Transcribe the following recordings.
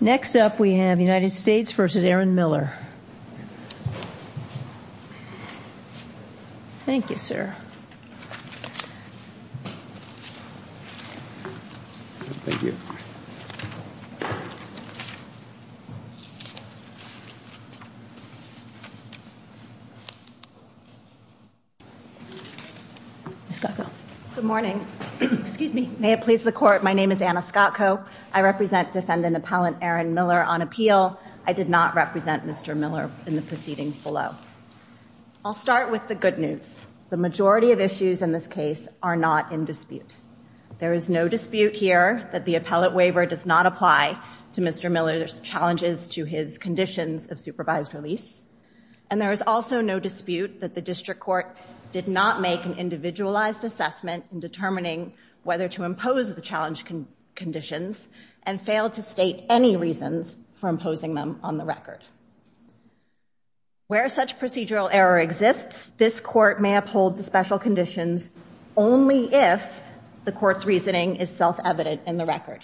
Next up, we have United States v. Aaron Miller. Thank you, sir. Thank you. Ms. Scottco. Good morning. Excuse me. May it please the Court, my name is Anna Scottco. I represent Defendant Appellant Aaron Miller on appeal. I did not represent Mr. Miller in the proceedings below. I'll start with the good news. The majority of issues in this case are not in dispute. There is no dispute here that the appellate waiver does not apply to Mr. Miller's challenges to his conditions of supervised release. And there is also no dispute that the district court did not make an individualized assessment in determining whether to impose the challenge conditions and failed to state any reasons for imposing them on the record. Where such procedural error exists, this court may uphold the special conditions only if the court's reasoning is self-evident in the record.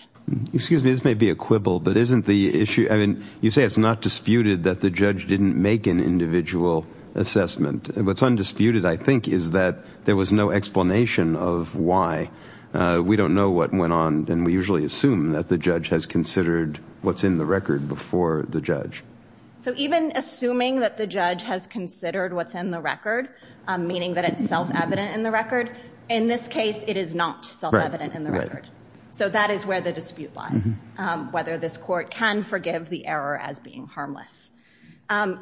Excuse me, this may be a quibble, but isn't the issue, I mean, you say it's not disputed that the judge didn't make an individual assessment. What's undisputed, I think, is that there was no explanation of why. We don't know what went on, and we usually assume that the judge has considered what's in the record before the judge. So even assuming that the judge has considered what's in the record, meaning that it's self-evident in the record, in this case it is not self-evident in the record. So that is where the dispute lies, whether this court can forgive the error as being harmless.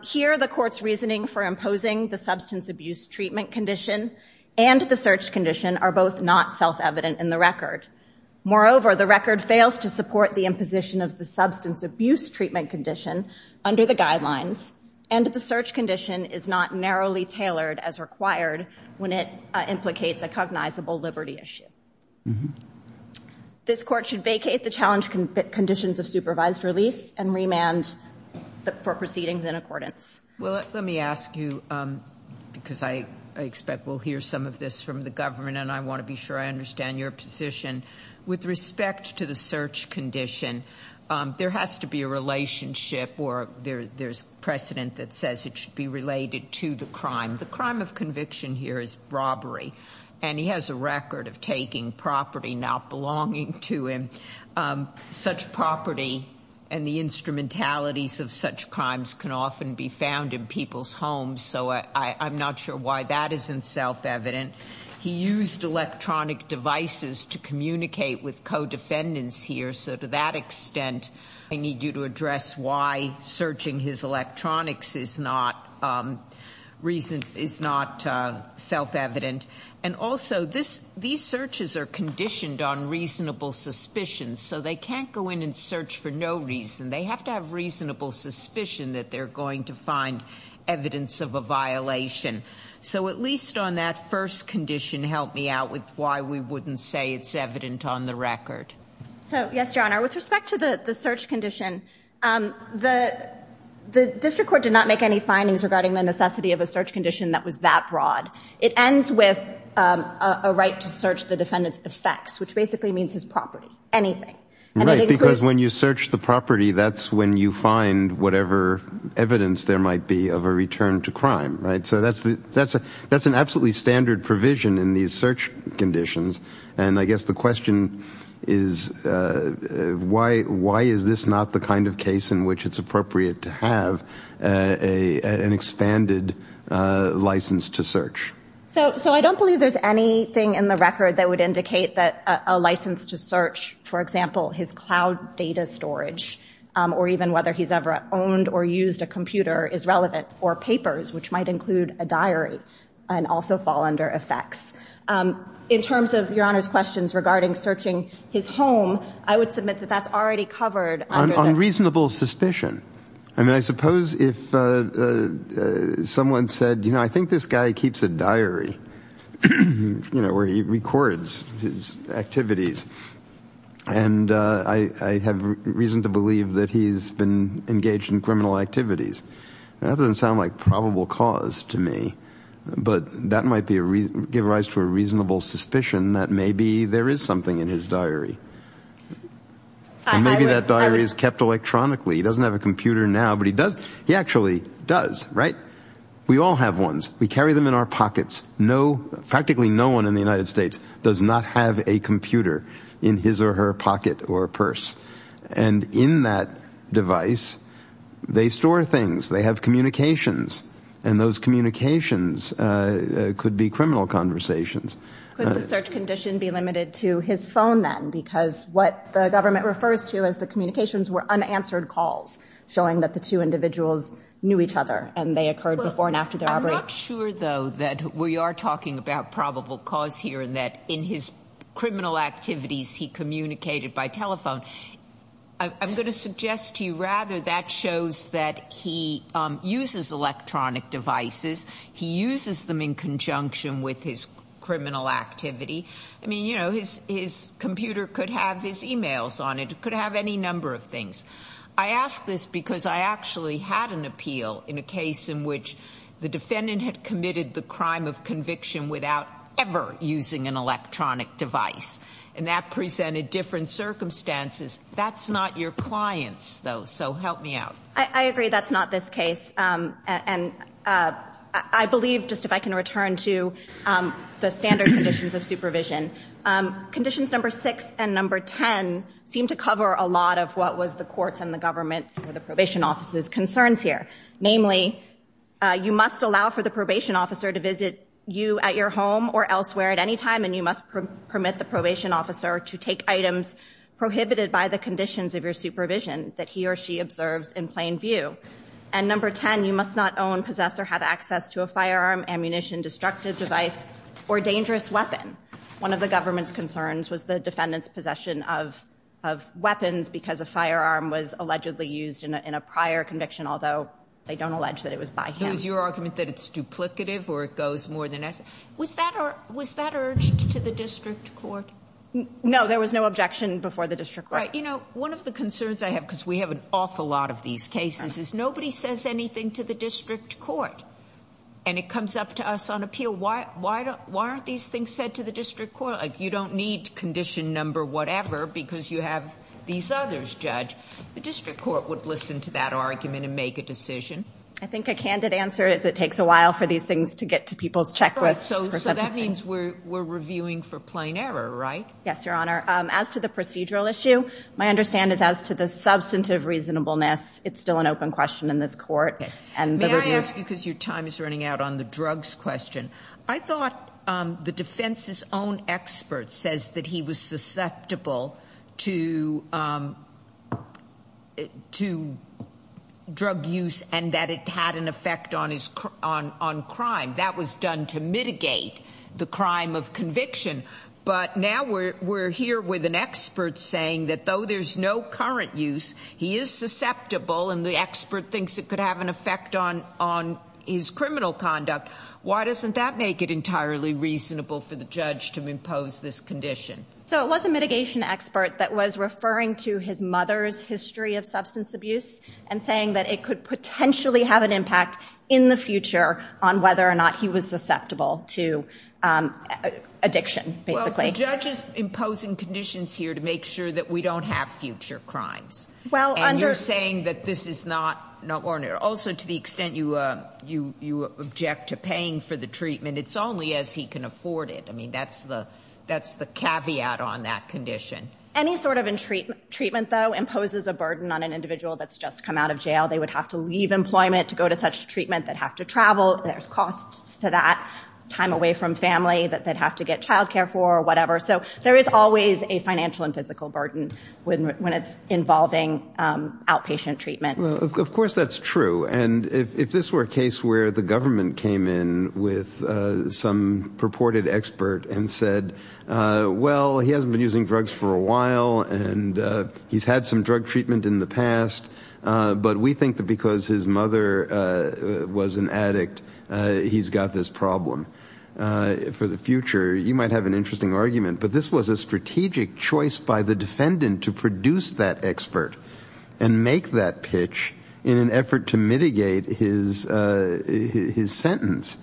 Here, the court's reasoning for imposing the substance abuse treatment condition and the search condition are both not self-evident in the record. Moreover, the record fails to support the imposition of the substance abuse treatment condition under the guidelines, and the search condition is not narrowly tailored as required when it implicates a cognizable liberty issue. This court should vacate the challenge conditions of supervised release and remand for proceedings in accordance. Well, let me ask you, because I expect we'll hear some of this from the government, and I want to be sure I understand your position. With respect to the search condition, there has to be a relationship, or there's precedent that says it should be related to the crime. The crime of conviction here is robbery, and he has a record of taking property not belonging to him. Such property and the instrumentalities of such crimes can often be found in people's homes, so I'm not sure why that isn't self-evident. He used electronic devices to communicate with co-defendants here, so to that extent I need you to address why searching his electronics is not self-evident. And also, these searches are conditioned on reasonable suspicion, so they can't go in and search for no reason. They have to have reasonable suspicion that they're going to find evidence of a violation. So at least on that first condition, help me out with why we wouldn't say it's evident on the record. So, yes, Your Honor, with respect to the search condition, the district court did not make any findings regarding the necessity of a search condition that was that broad. It ends with a right to search the defendant's effects, which basically means his property, anything. Right, because when you search the property, that's when you find whatever evidence there might be of a return to crime, right? So that's an absolutely standard provision in these search conditions. And I guess the question is, why is this not the kind of case in which it's appropriate to have an expanded license to search? So I don't believe there's anything in the record that would indicate that a license to search, for example, his cloud data storage or even whether he's ever owned or used a computer is relevant or papers, which might include a diary and also fall under effects. In terms of Your Honor's questions regarding searching his home, I would submit that that's already covered. On reasonable suspicion. I mean, I suppose if someone said, you know, I think this guy keeps a diary, you know, where he records his activities. And I have reason to believe that he's been engaged in criminal activities. That doesn't sound like probable cause to me. But that might give rise to a reasonable suspicion that maybe there is something in his diary. And maybe that diary is kept electronically. He doesn't have a computer now, but he does. He actually does. Right. We all have ones. We carry them in our pockets. Practically no one in the United States does not have a computer in his or her pocket or purse. And in that device, they store things. They have communications. And those communications could be criminal conversations. Could the search condition be limited to his phone then? Because what the government refers to as the communications were unanswered calls, showing that the two individuals knew each other and they occurred before and after their operation. I'm not sure, though, that we are talking about probable cause here and that in his criminal activities, he communicated by telephone. I'm going to suggest to you rather that shows that he uses electronic devices. He uses them in conjunction with his criminal activity. I mean, you know, his computer could have his e-mails on it. It could have any number of things. I ask this because I actually had an appeal in a case in which the defendant had committed the crime of conviction without ever using an electronic device, and that presented different circumstances. That's not your clients, though, so help me out. I agree that's not this case. And I believe, just if I can return to the standard conditions of supervision, conditions number six and number ten seem to cover a lot of what was the court's and the government's or the probation officer's concerns here. Namely, you must allow for the probation officer to visit you at your home or elsewhere at any time, and you must permit the probation officer to take items prohibited by the conditions of your supervision that he or she observes in plain view. And number ten, you must not own, possess, or have access to a firearm, ammunition, destructive device, or dangerous weapon. One of the government's concerns was the defendant's possession of weapons because a firearm was allegedly used in a prior conviction, although they don't allege that it was by him. It was your argument that it's duplicative or it goes more than necessary. Was that urged to the district court? No, there was no objection before the district court. You know, one of the concerns I have, because we have an awful lot of these cases, nobody says anything to the district court, and it comes up to us on appeal, why aren't these things said to the district court? You don't need condition number whatever because you have these others judged. The district court would listen to that argument and make a decision. I think a candid answer is it takes a while for these things to get to people's checklists. So that means we're reviewing for plain error, right? Yes, Your Honor. As to the procedural issue, my understanding is as to the substantive reasonableness, it's still an open question in this court. May I ask you, because your time is running out, on the drugs question. I thought the defense's own expert says that he was susceptible to drug use and that it had an effect on crime. That was done to mitigate the crime of conviction. But now we're here with an expert saying that though there's no current use, he is susceptible and the expert thinks it could have an effect on his criminal conduct. Why doesn't that make it entirely reasonable for the judge to impose this condition? So it was a mitigation expert that was referring to his mother's history of substance abuse and saying that it could potentially have an impact in the future on whether or not he was susceptible to addiction, basically. Well, the judge is imposing conditions here to make sure that we don't have future crimes. And you're saying that this is not, also to the extent you object to paying for the treatment, it's only as he can afford it. I mean, that's the caveat on that condition. Any sort of treatment, though, imposes a burden on an individual that's just come out of jail. They would have to leave employment to go to such treatment, they'd have to travel, there's costs to that, time away from family that they'd have to get child care for or whatever. So there is always a financial and physical burden when it's involving outpatient treatment. Well, of course that's true. And if this were a case where the government came in with some purported expert and said, well, he hasn't been using drugs for a while and he's had some drug treatment in the past, but we think that because his mother was an addict, he's got this problem. For the future, you might have an interesting argument, but this was a strategic choice by the defendant to produce that expert and make that pitch in an effort to mitigate his sentence.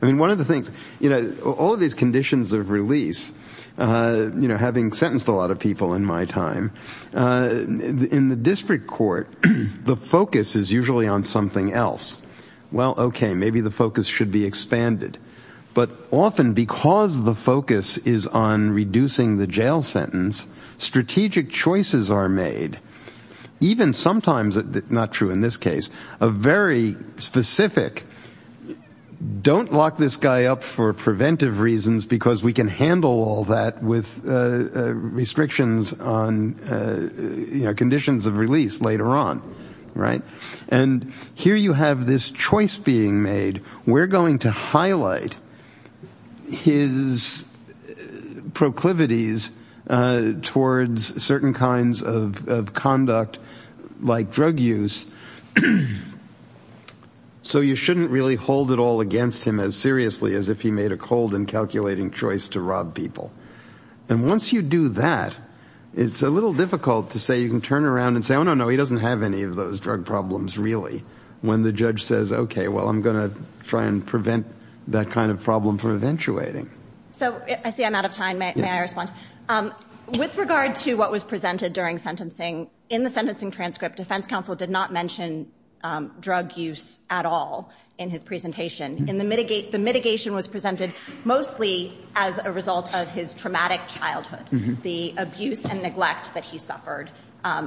I mean, one of the things, you know, all of these conditions of release, you know, having sentenced a lot of people in my time, in the district court the focus is usually on something else. Well, okay, maybe the focus should be expanded. But often because the focus is on reducing the jail sentence, strategic choices are made. Even sometimes, not true in this case, a very specific, don't lock this guy up for preventive reasons because we can handle all that with restrictions on conditions of release later on, right? And here you have this choice being made. We're going to highlight his proclivities towards certain kinds of conduct like drug use. So you shouldn't really hold it all against him as seriously as if he made a cold and calculating choice to rob people. And once you do that, it's a little difficult to say you can turn around and say, oh, no, no, he doesn't have any of those drug problems really, when the judge says, okay, well, I'm going to try and prevent that kind of problem from eventuating. So I see I'm out of time. May I respond? With regard to what was presented during sentencing, in the sentencing transcript, defense counsel did not mention drug use at all in his presentation. The mitigation was presented mostly as a result of his traumatic childhood, the abuse and neglect that he suffered,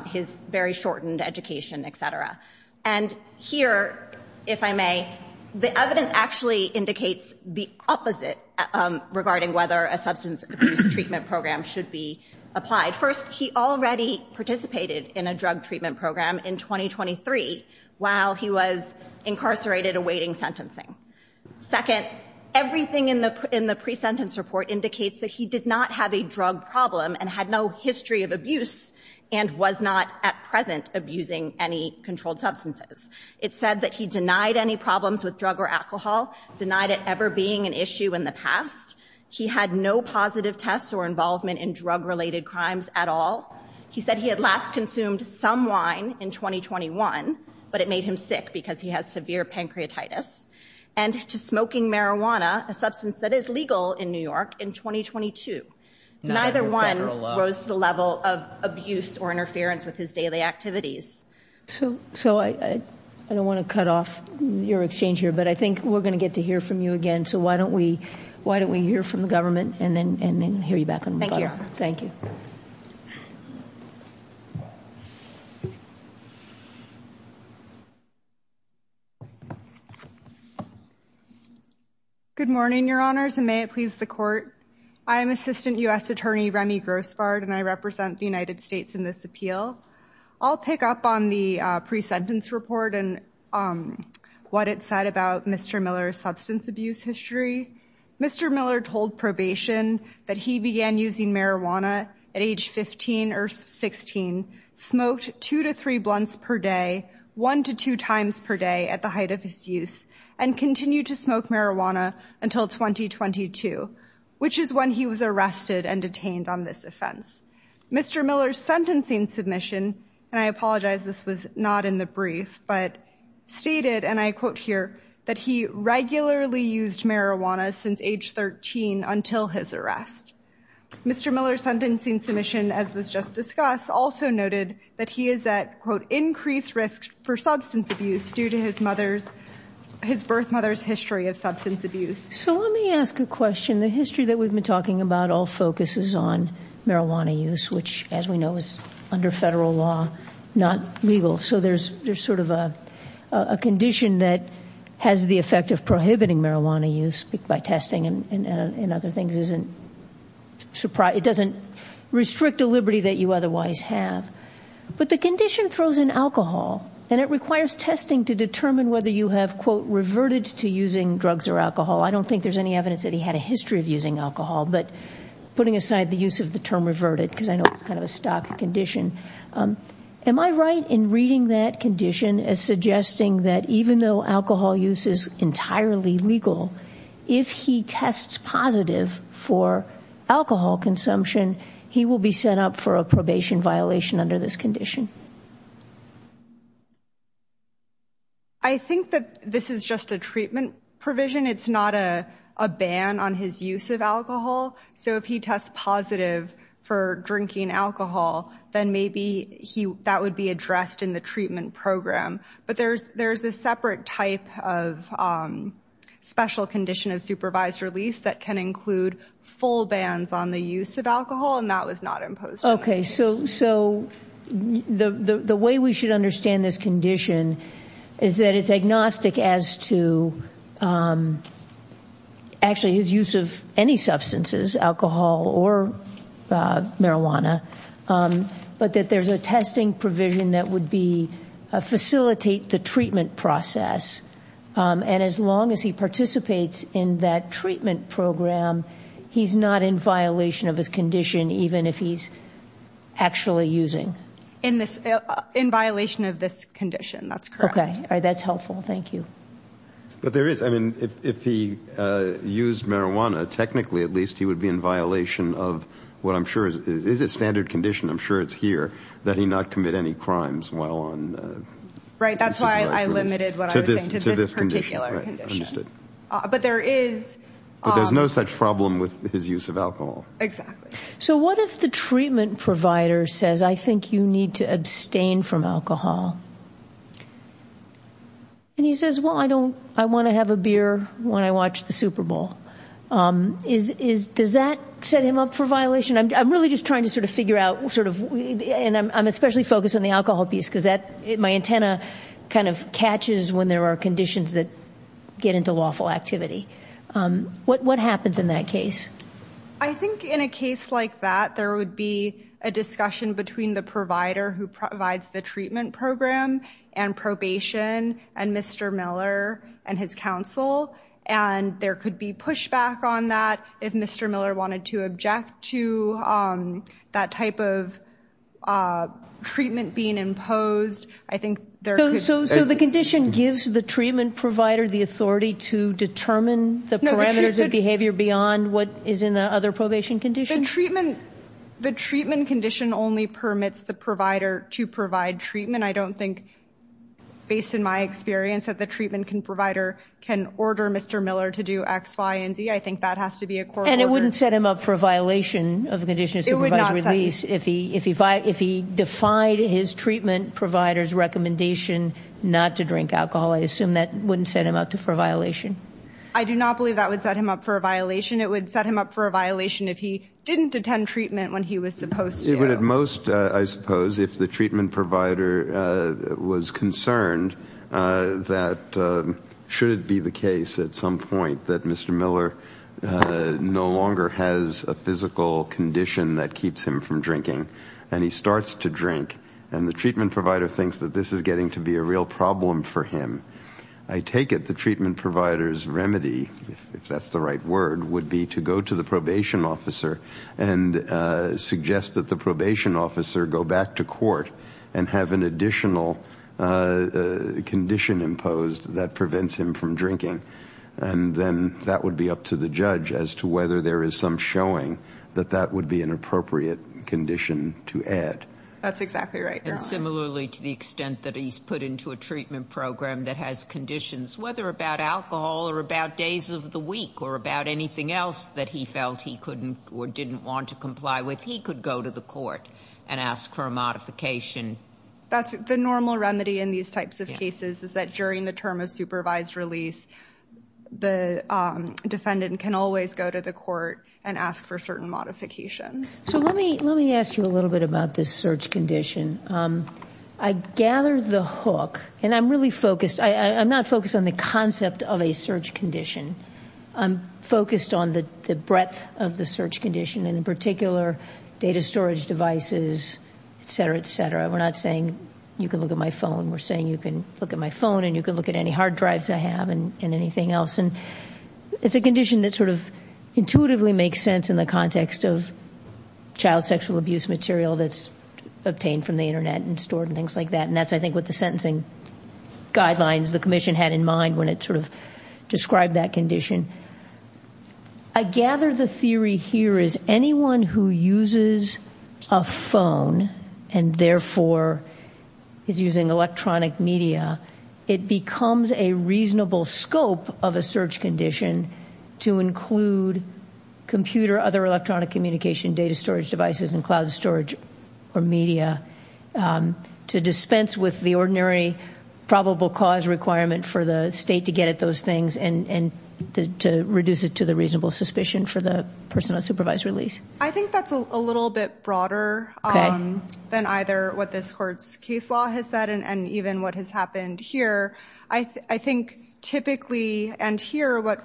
his very shortened education, et cetera. And here, if I may, the evidence actually indicates the opposite regarding whether a substance abuse treatment program should be applied. First, he already participated in a drug treatment program in 2023 while he was incarcerated awaiting sentencing. Second, everything in the pre-sentence report indicates that he did not have a drug problem and had no history of abuse and was not at present abusing any controlled substances. It said that he denied any problems with drug or alcohol, denied it ever being an issue in the past. He had no positive tests or involvement in drug-related crimes at all. He said he had last consumed some wine in 2021, but it made him sick because he has severe pancreatitis, and to smoking marijuana, a substance that is legal in New York, in 2022. Neither one rose to the level of abuse or interference with his daily activities. So I don't want to cut off your exchange here, but I think we're going to get to hear from you again. So why don't we hear from the government and then hear you back. Thank you, Your Honor. Thank you. Good morning, Your Honors, and may it please the Court. I am Assistant U.S. Attorney Remy Grossbard, and I represent the United States in this appeal. I'll pick up on the pre-sentence report and what it said about Mr. Miller's substance abuse history. Mr. Miller told probation that he began using marijuana at age 15 or 16, smoked two to three blunts per day, one to two times per day at the height of his use, and continued to smoke marijuana until 2022, which is when he was arrested and detained on this offense. Mr. Miller's sentencing submission, and I apologize this was not in the brief, but stated, and I quote here, that he regularly used marijuana since age 13 until his arrest. Mr. Miller's sentencing submission, as was just discussed, also noted that he is at, quote, increased risk for substance abuse due to his birth mother's history of substance abuse. So let me ask a question. The history that we've been talking about all focuses on marijuana use, which, as we know, is under federal law not legal. So there's sort of a condition that has the effect of prohibiting marijuana use by testing and other things. It doesn't restrict the liberty that you otherwise have. But the condition throws in alcohol, and it requires testing to determine whether you have, quote, reverted to using drugs or alcohol. I don't think there's any evidence that he had a history of using alcohol. But putting aside the use of the term reverted, because I know it's kind of a stock condition, am I right in reading that condition as suggesting that even though alcohol use is entirely legal, if he tests positive for alcohol consumption, he will be sent up for a probation violation under this condition? I think that this is just a treatment provision. It's not a ban on his use of alcohol. So if he tests positive for drinking alcohol, then maybe that would be addressed in the treatment program. But there's a separate type of special condition of supervised release that can include full bans on the use of alcohol, and that was not imposed on this case. Okay, so the way we should understand this condition is that it's agnostic as to actually his use of any substances, alcohol or marijuana, but that there's a testing provision that would facilitate the treatment process. And as long as he participates in that treatment program, he's not in violation of his condition, even if he's actually using. In violation of this condition, that's correct. Okay, that's helpful. Thank you. But there is, I mean, if he used marijuana, technically at least he would be in violation of what I'm sure is a standard condition. I'm sure it's here that he not commit any crimes while on supervision. Right, that's why I limited what I was saying to this particular condition. Right, understood. But there is... But there's no such problem with his use of alcohol. Exactly. So what if the treatment provider says, I think you need to abstain from alcohol? And he says, well, I want to have a beer when I watch the Super Bowl. Does that set him up for violation? I'm really just trying to sort of figure out, and I'm especially focused on the alcohol piece because my antenna kind of catches when there are conditions that get into lawful activity. What happens in that case? I think in a case like that, there would be a discussion between the provider who provides the treatment program and probation and Mr. Miller and his counsel, and there could be pushback on that if Mr. Miller wanted to object to that type of treatment being imposed. I think there could be... So the condition gives the treatment provider the authority to determine the parameters of behavior beyond what is in the other probation condition? The treatment condition only permits the provider to provide treatment. I don't think, based on my experience, that the treatment provider can order Mr. Miller to do X, Y, and Z. I think that has to be a court order. And it wouldn't set him up for a violation of the condition of supervised release if he defied his treatment provider's recommendation not to drink alcohol. I assume that wouldn't set him up for a violation. I do not believe that would set him up for a violation. It would set him up for a violation if he didn't attend treatment when he was supposed to. It would at most, I suppose, if the treatment provider was concerned that, should it be the case at some point that Mr. Miller no longer has a physical condition that keeps him from drinking, and he starts to drink, and the treatment provider thinks that this is getting to be a real problem for him. I take it the treatment provider's remedy, if that's the right word, would be to go to the probation officer and suggest that the probation officer go back to court and have an additional condition imposed that prevents him from drinking. And then that would be up to the judge as to whether there is some showing that that would be an appropriate condition to add. That's exactly right. And similarly to the extent that he's put into a treatment program that has conditions, whether about alcohol or about days of the week or about anything else that he felt he couldn't or didn't want to comply with, he could go to the court and ask for a modification. The normal remedy in these types of cases is that during the term of supervised release, the defendant can always go to the court and ask for certain modifications. So let me ask you a little bit about this search condition. I gather the hook, and I'm really focused. I'm not focused on the concept of a search condition. I'm focused on the breadth of the search condition, and in particular data storage devices, et cetera, et cetera. We're not saying you can look at my phone. We're saying you can look at my phone and you can look at any hard drives I have and anything else. It's a condition that sort of intuitively makes sense in the context of child sexual abuse material that's obtained from the Internet and stored and things like that, and that's, I think, what the sentencing guidelines the commission had in mind when it sort of described that condition. I gather the theory here is anyone who uses a phone and therefore is using electronic media, it becomes a reasonable scope of a search condition to include computer, other electronic communication, data storage devices, and cloud storage or media to dispense with the ordinary probable cause requirement for the state to get at those things and to reduce it to the reasonable suspicion for the person on supervised release. I think that's a little bit broader than either what this court's case law has said and even what has happened here. I think typically and here what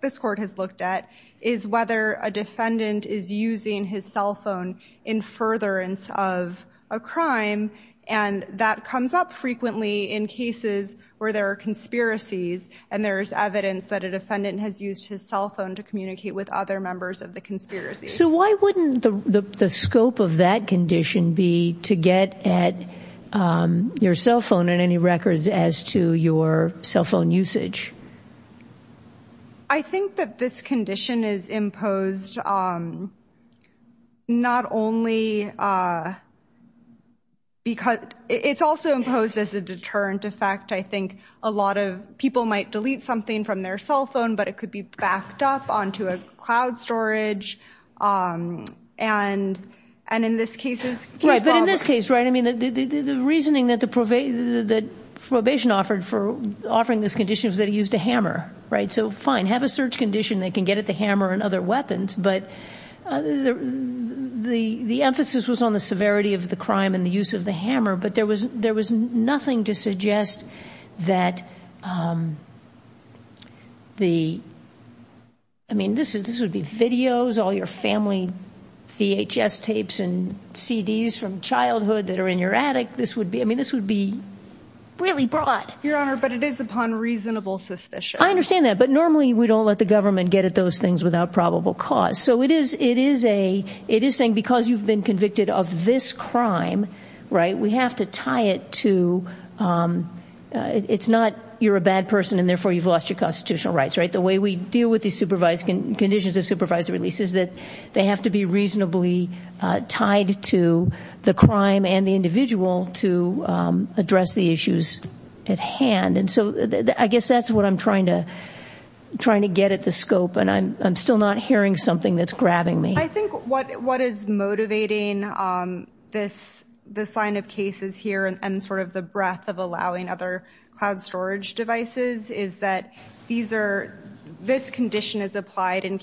this court has looked at is whether a defendant is using his cell phone in furtherance of a crime, and that comes up frequently in cases where there are conspiracies and there is evidence that a defendant has used his cell phone to communicate with other members of the conspiracy. So why wouldn't the scope of that condition be to get at your cell phone and any records as to your cell phone usage? I think that this condition is imposed not only because it's also imposed as a deterrent effect. I think a lot of people might delete something from their cell phone, but it could be backed up onto a cloud storage. And in this case, right? But in this case, right, the reasoning that probation offered for offering this condition was that he used a hammer, right? So fine, have a search condition. They can get at the hammer and other weapons. But the emphasis was on the severity of the crime and the use of the hammer, but there was nothing to suggest that the, I mean, this would be videos, all your family VHS tapes and CDs from childhood that are in your attic. I mean, this would be really broad. Your Honor, but it is upon reasonable suspicion. I understand that. But normally we don't let the government get at those things without probable cause. So it is saying because you've been convicted of this crime, right, that you have to tie it to, it's not you're a bad person and therefore you've lost your constitutional rights, right? The way we deal with these conditions of supervised release is that they have to be reasonably tied to the crime and the individual to address the issues at hand. And so I guess that's what I'm trying to get at the scope, and I'm still not hearing something that's grabbing me. I think what is motivating this line of cases here and sort of the breadth of allowing other cloud storage devices is that this condition is applied in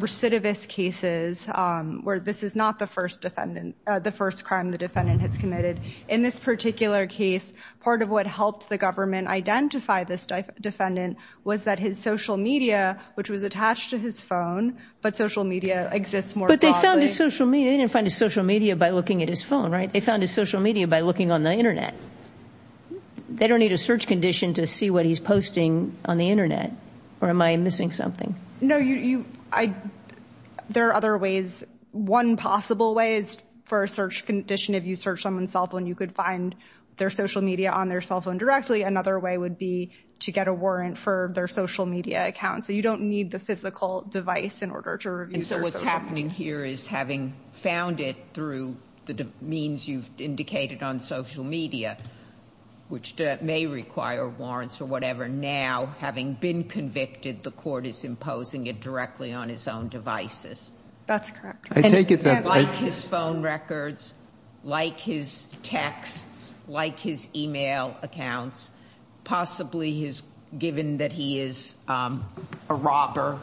recidivist cases where this is not the first crime the defendant has committed. In this particular case, part of what helped the government identify this defendant was that his social media, which was attached to his phone, but social media exists more broadly. But they found his social media. They didn't find his social media by looking at his phone, right? They found his social media by looking on the Internet. They don't need a search condition to see what he's posting on the Internet. Or am I missing something? No, there are other ways. One possible way is for a search condition. If you search someone's cell phone, you could find their social media on their cell phone directly. Actually, another way would be to get a warrant for their social media account. So you don't need the physical device in order to review their social media. And so what's happening here is having found it through the means you've indicated on social media, which may require warrants or whatever, now having been convicted the court is imposing it directly on his own devices. That's correct. I take it that like his phone records, like his texts, like his e-mail accounts, possibly given that he is a robber,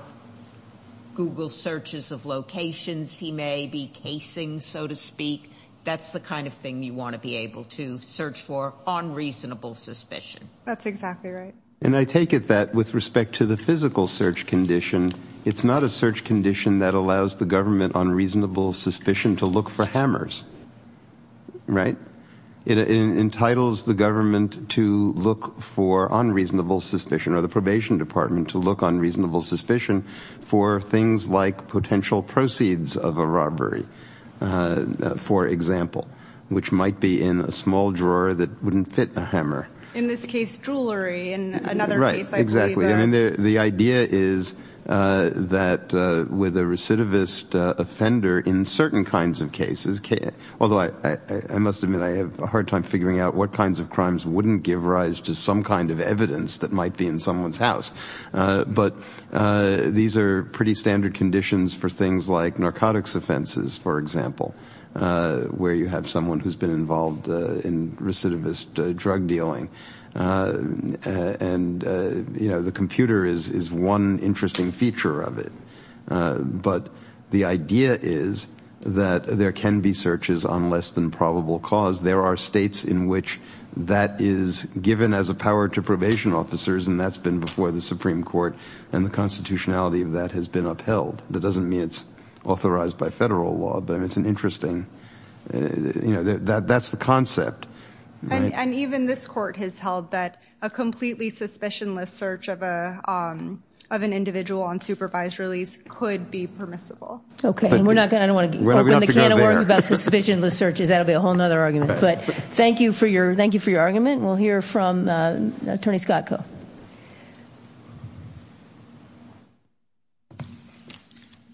Google searches of locations he may be casing, so to speak. That's the kind of thing you want to be able to search for on reasonable suspicion. That's exactly right. And I take it that with respect to the physical search condition, it's not a search condition that allows the government on reasonable suspicion to look for hammers, right? It entitles the government to look for on reasonable suspicion, or the probation department to look on reasonable suspicion for things like potential proceeds of a robbery, for example, which might be in a small drawer that wouldn't fit a hammer. In this case, jewelry. Right, exactly. And the idea is that with a recidivist offender in certain kinds of cases, although I must admit I have a hard time figuring out what kinds of crimes wouldn't give rise to some kind of evidence that might be in someone's house. But these are pretty standard conditions for things like narcotics offenses, for example, where you have someone who's been involved in recidivist drug dealing. And, you know, the computer is one interesting feature of it. But the idea is that there can be searches on less than probable cause. There are states in which that is given as a power to probation officers, and that's been before the Supreme Court, and the constitutionality of that has been upheld. That doesn't mean it's authorized by federal law, but it's an interesting, you know, that's the concept. And even this court has held that a completely suspicionless search of an individual on supervised release could be permissible. Okay, and we're not going to want to open the can of worms about suspicionless searches. That would be a whole other argument. But thank you for your argument. We'll hear from Attorney Scott Koh.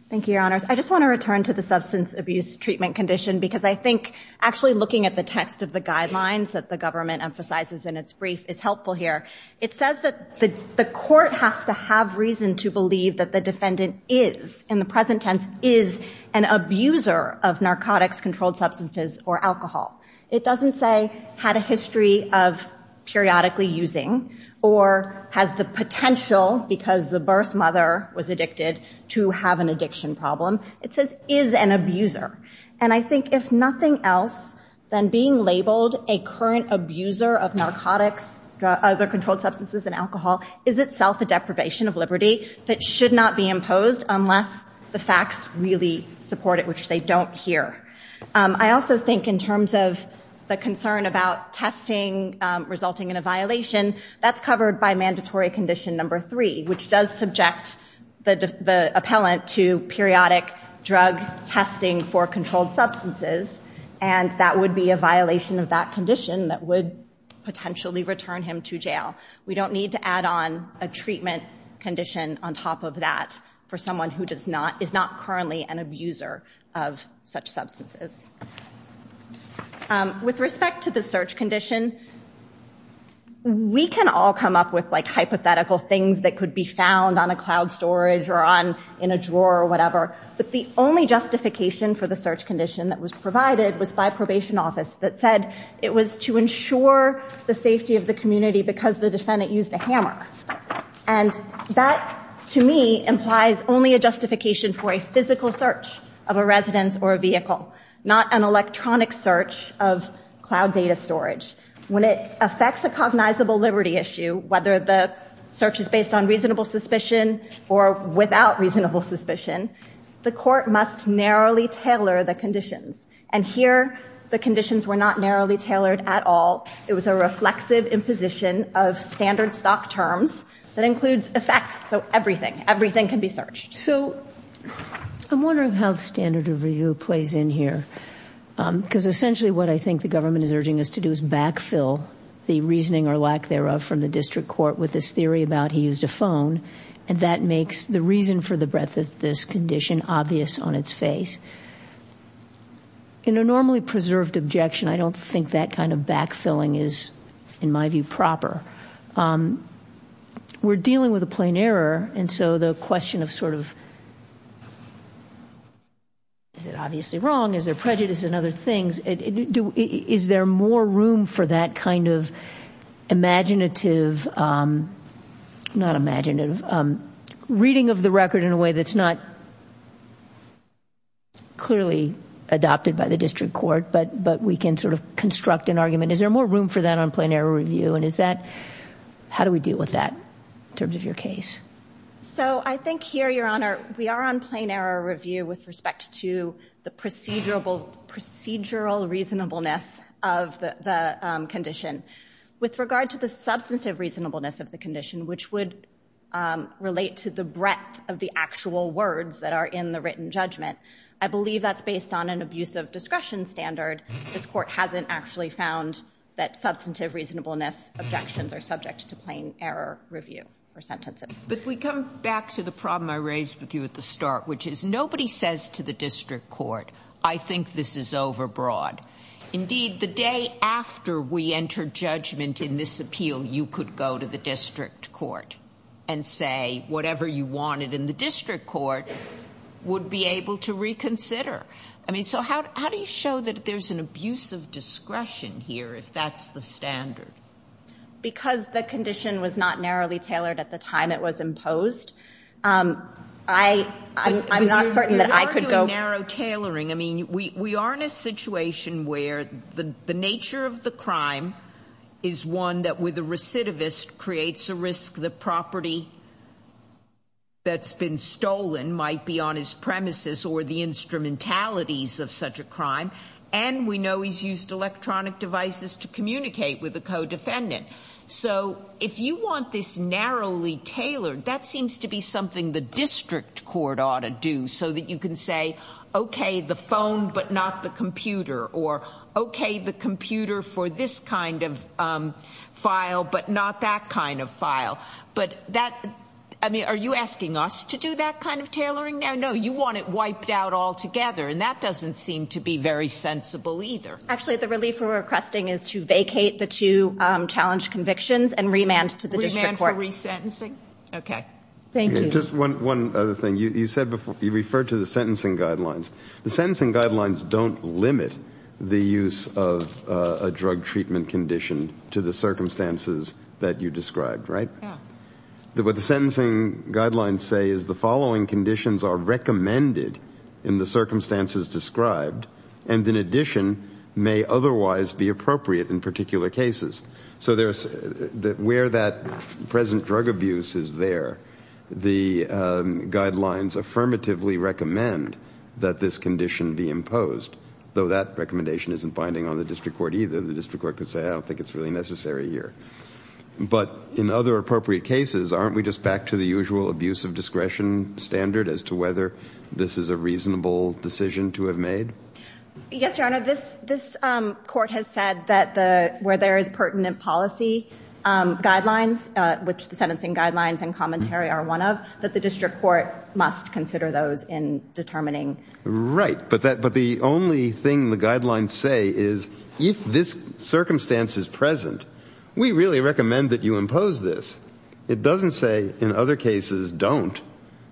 Thank you, Your Honors. I just want to return to the substance abuse treatment condition, because I think actually looking at the text of the guidelines that the government emphasizes in its brief is helpful here. It says that the court has to have reason to believe that the defendant is, in the present tense, is an abuser of narcotics-controlled substances or alcohol. It doesn't say had a history of periodically using or has the potential, because the birth mother was addicted, to have an addiction problem. It says is an abuser. And I think if nothing else, then being labeled a current abuser of narcotics, other controlled substances and alcohol, is itself a deprivation of liberty that should not be imposed unless the facts really support it, which they don't here. I also think in terms of the concern about testing resulting in a violation, that's covered by mandatory condition number three, which does subject the appellant to periodic drug testing for controlled substances, and that would be a violation of that condition that would potentially return him to jail. We don't need to add on a treatment condition on top of that for someone who is not currently an abuser of such substances. With respect to the search condition, we can all come up with hypothetical things that could be found on a cloud storage or in a drawer or whatever, but the only justification for the search condition that was provided was by a probation office that said it was to ensure the safety of the community because the defendant used a hammer. And that, to me, implies only a justification for a physical search of a residence or a vehicle. Not an electronic search of cloud data storage. When it affects a cognizable liberty issue, whether the search is based on reasonable suspicion or without reasonable suspicion, the court must narrowly tailor the conditions. And here, the conditions were not narrowly tailored at all. It was a reflexive imposition of standard stock terms that includes effects. So everything, everything can be searched. So I'm wondering how the standard of review plays in here. Because essentially what I think the government is urging us to do is backfill the reasoning or lack thereof from the district court with this theory about he used a phone, and that makes the reason for the breadth of this condition obvious on its face. In a normally preserved objection, I don't think that kind of backfilling is, in my view, proper. We're dealing with a plain error. And so the question of sort of is it obviously wrong, is there prejudice and other things, is there more room for that kind of imaginative, not imaginative, reading of the record in a way that's not clearly adopted by the district court, but we can sort of construct an argument. Is there more room for that on plain error review, and is that, how do we deal with that in terms of your case? So I think here, Your Honor, we are on plain error review with respect to the procedural reasonableness of the condition. With regard to the substantive reasonableness of the condition, which would relate to the breadth of the actual words that are in the written judgment, I believe that's based on an abusive discretion standard. This court hasn't actually found that substantive reasonableness objections are subject to plain error review or sentences. But we come back to the problem I raised with you at the start, which is nobody says to the district court, I think this is overbroad. Indeed, the day after we enter judgment in this appeal, you could go to the district court and say whatever you wanted in the district court would be able to reconsider. I mean, so how do you show that there's an abusive discretion here if that's the standard? Because the condition was not narrowly tailored at the time it was imposed, I'm not certain that I could go. But you argue narrow tailoring. I mean, we are in a situation where the nature of the crime is one that with a recidivist creates a risk. The property that's been stolen might be on his premises or the instrumentalities of such a crime. And we know he's used electronic devices to communicate with a co-defendant. So if you want this narrowly tailored, that seems to be something the district court ought to do so that you can say, OK, the phone, but not the computer. Or OK, the computer for this kind of file, but not that kind of file. But that, I mean, are you asking us to do that kind of tailoring? No, you want it wiped out altogether. And that doesn't seem to be very sensible either. Actually, the relief we're requesting is to vacate the two challenge convictions and remand to the district court. Remand for resentencing? OK. Thank you. Just one other thing. You referred to the sentencing guidelines. The sentencing guidelines don't limit the use of a drug treatment condition to the circumstances that you described, right? Yeah. What the sentencing guidelines say is the following conditions are recommended in the circumstances described and, in addition, may otherwise be appropriate in particular cases. So where that present drug abuse is there, the guidelines affirmatively recommend that this condition be imposed, though that recommendation isn't binding on the district court either. The district court could say, I don't think it's really necessary here. But in other appropriate cases, aren't we just back to the usual abuse of discretion standard as to whether this is a reasonable decision to have made? Yes, Your Honor. This court has said that where there is pertinent policy guidelines, which the sentencing guidelines and commentary are one of, that the district court must consider those in determining. Right. But the only thing the guidelines say is if this circumstance is present, we really recommend that you impose this. It doesn't say in other cases don't.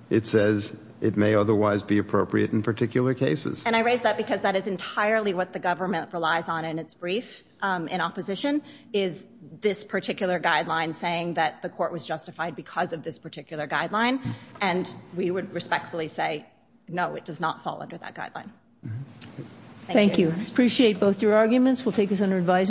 It says it may otherwise be appropriate in particular cases. And I raise that because that is entirely what the government relies on in its brief in opposition, is this particular guideline saying that the court was justified because of this particular guideline. And we would respectfully say, no, it does not fall under that guideline. Thank you. Appreciate both your arguments. We'll take this under advisement.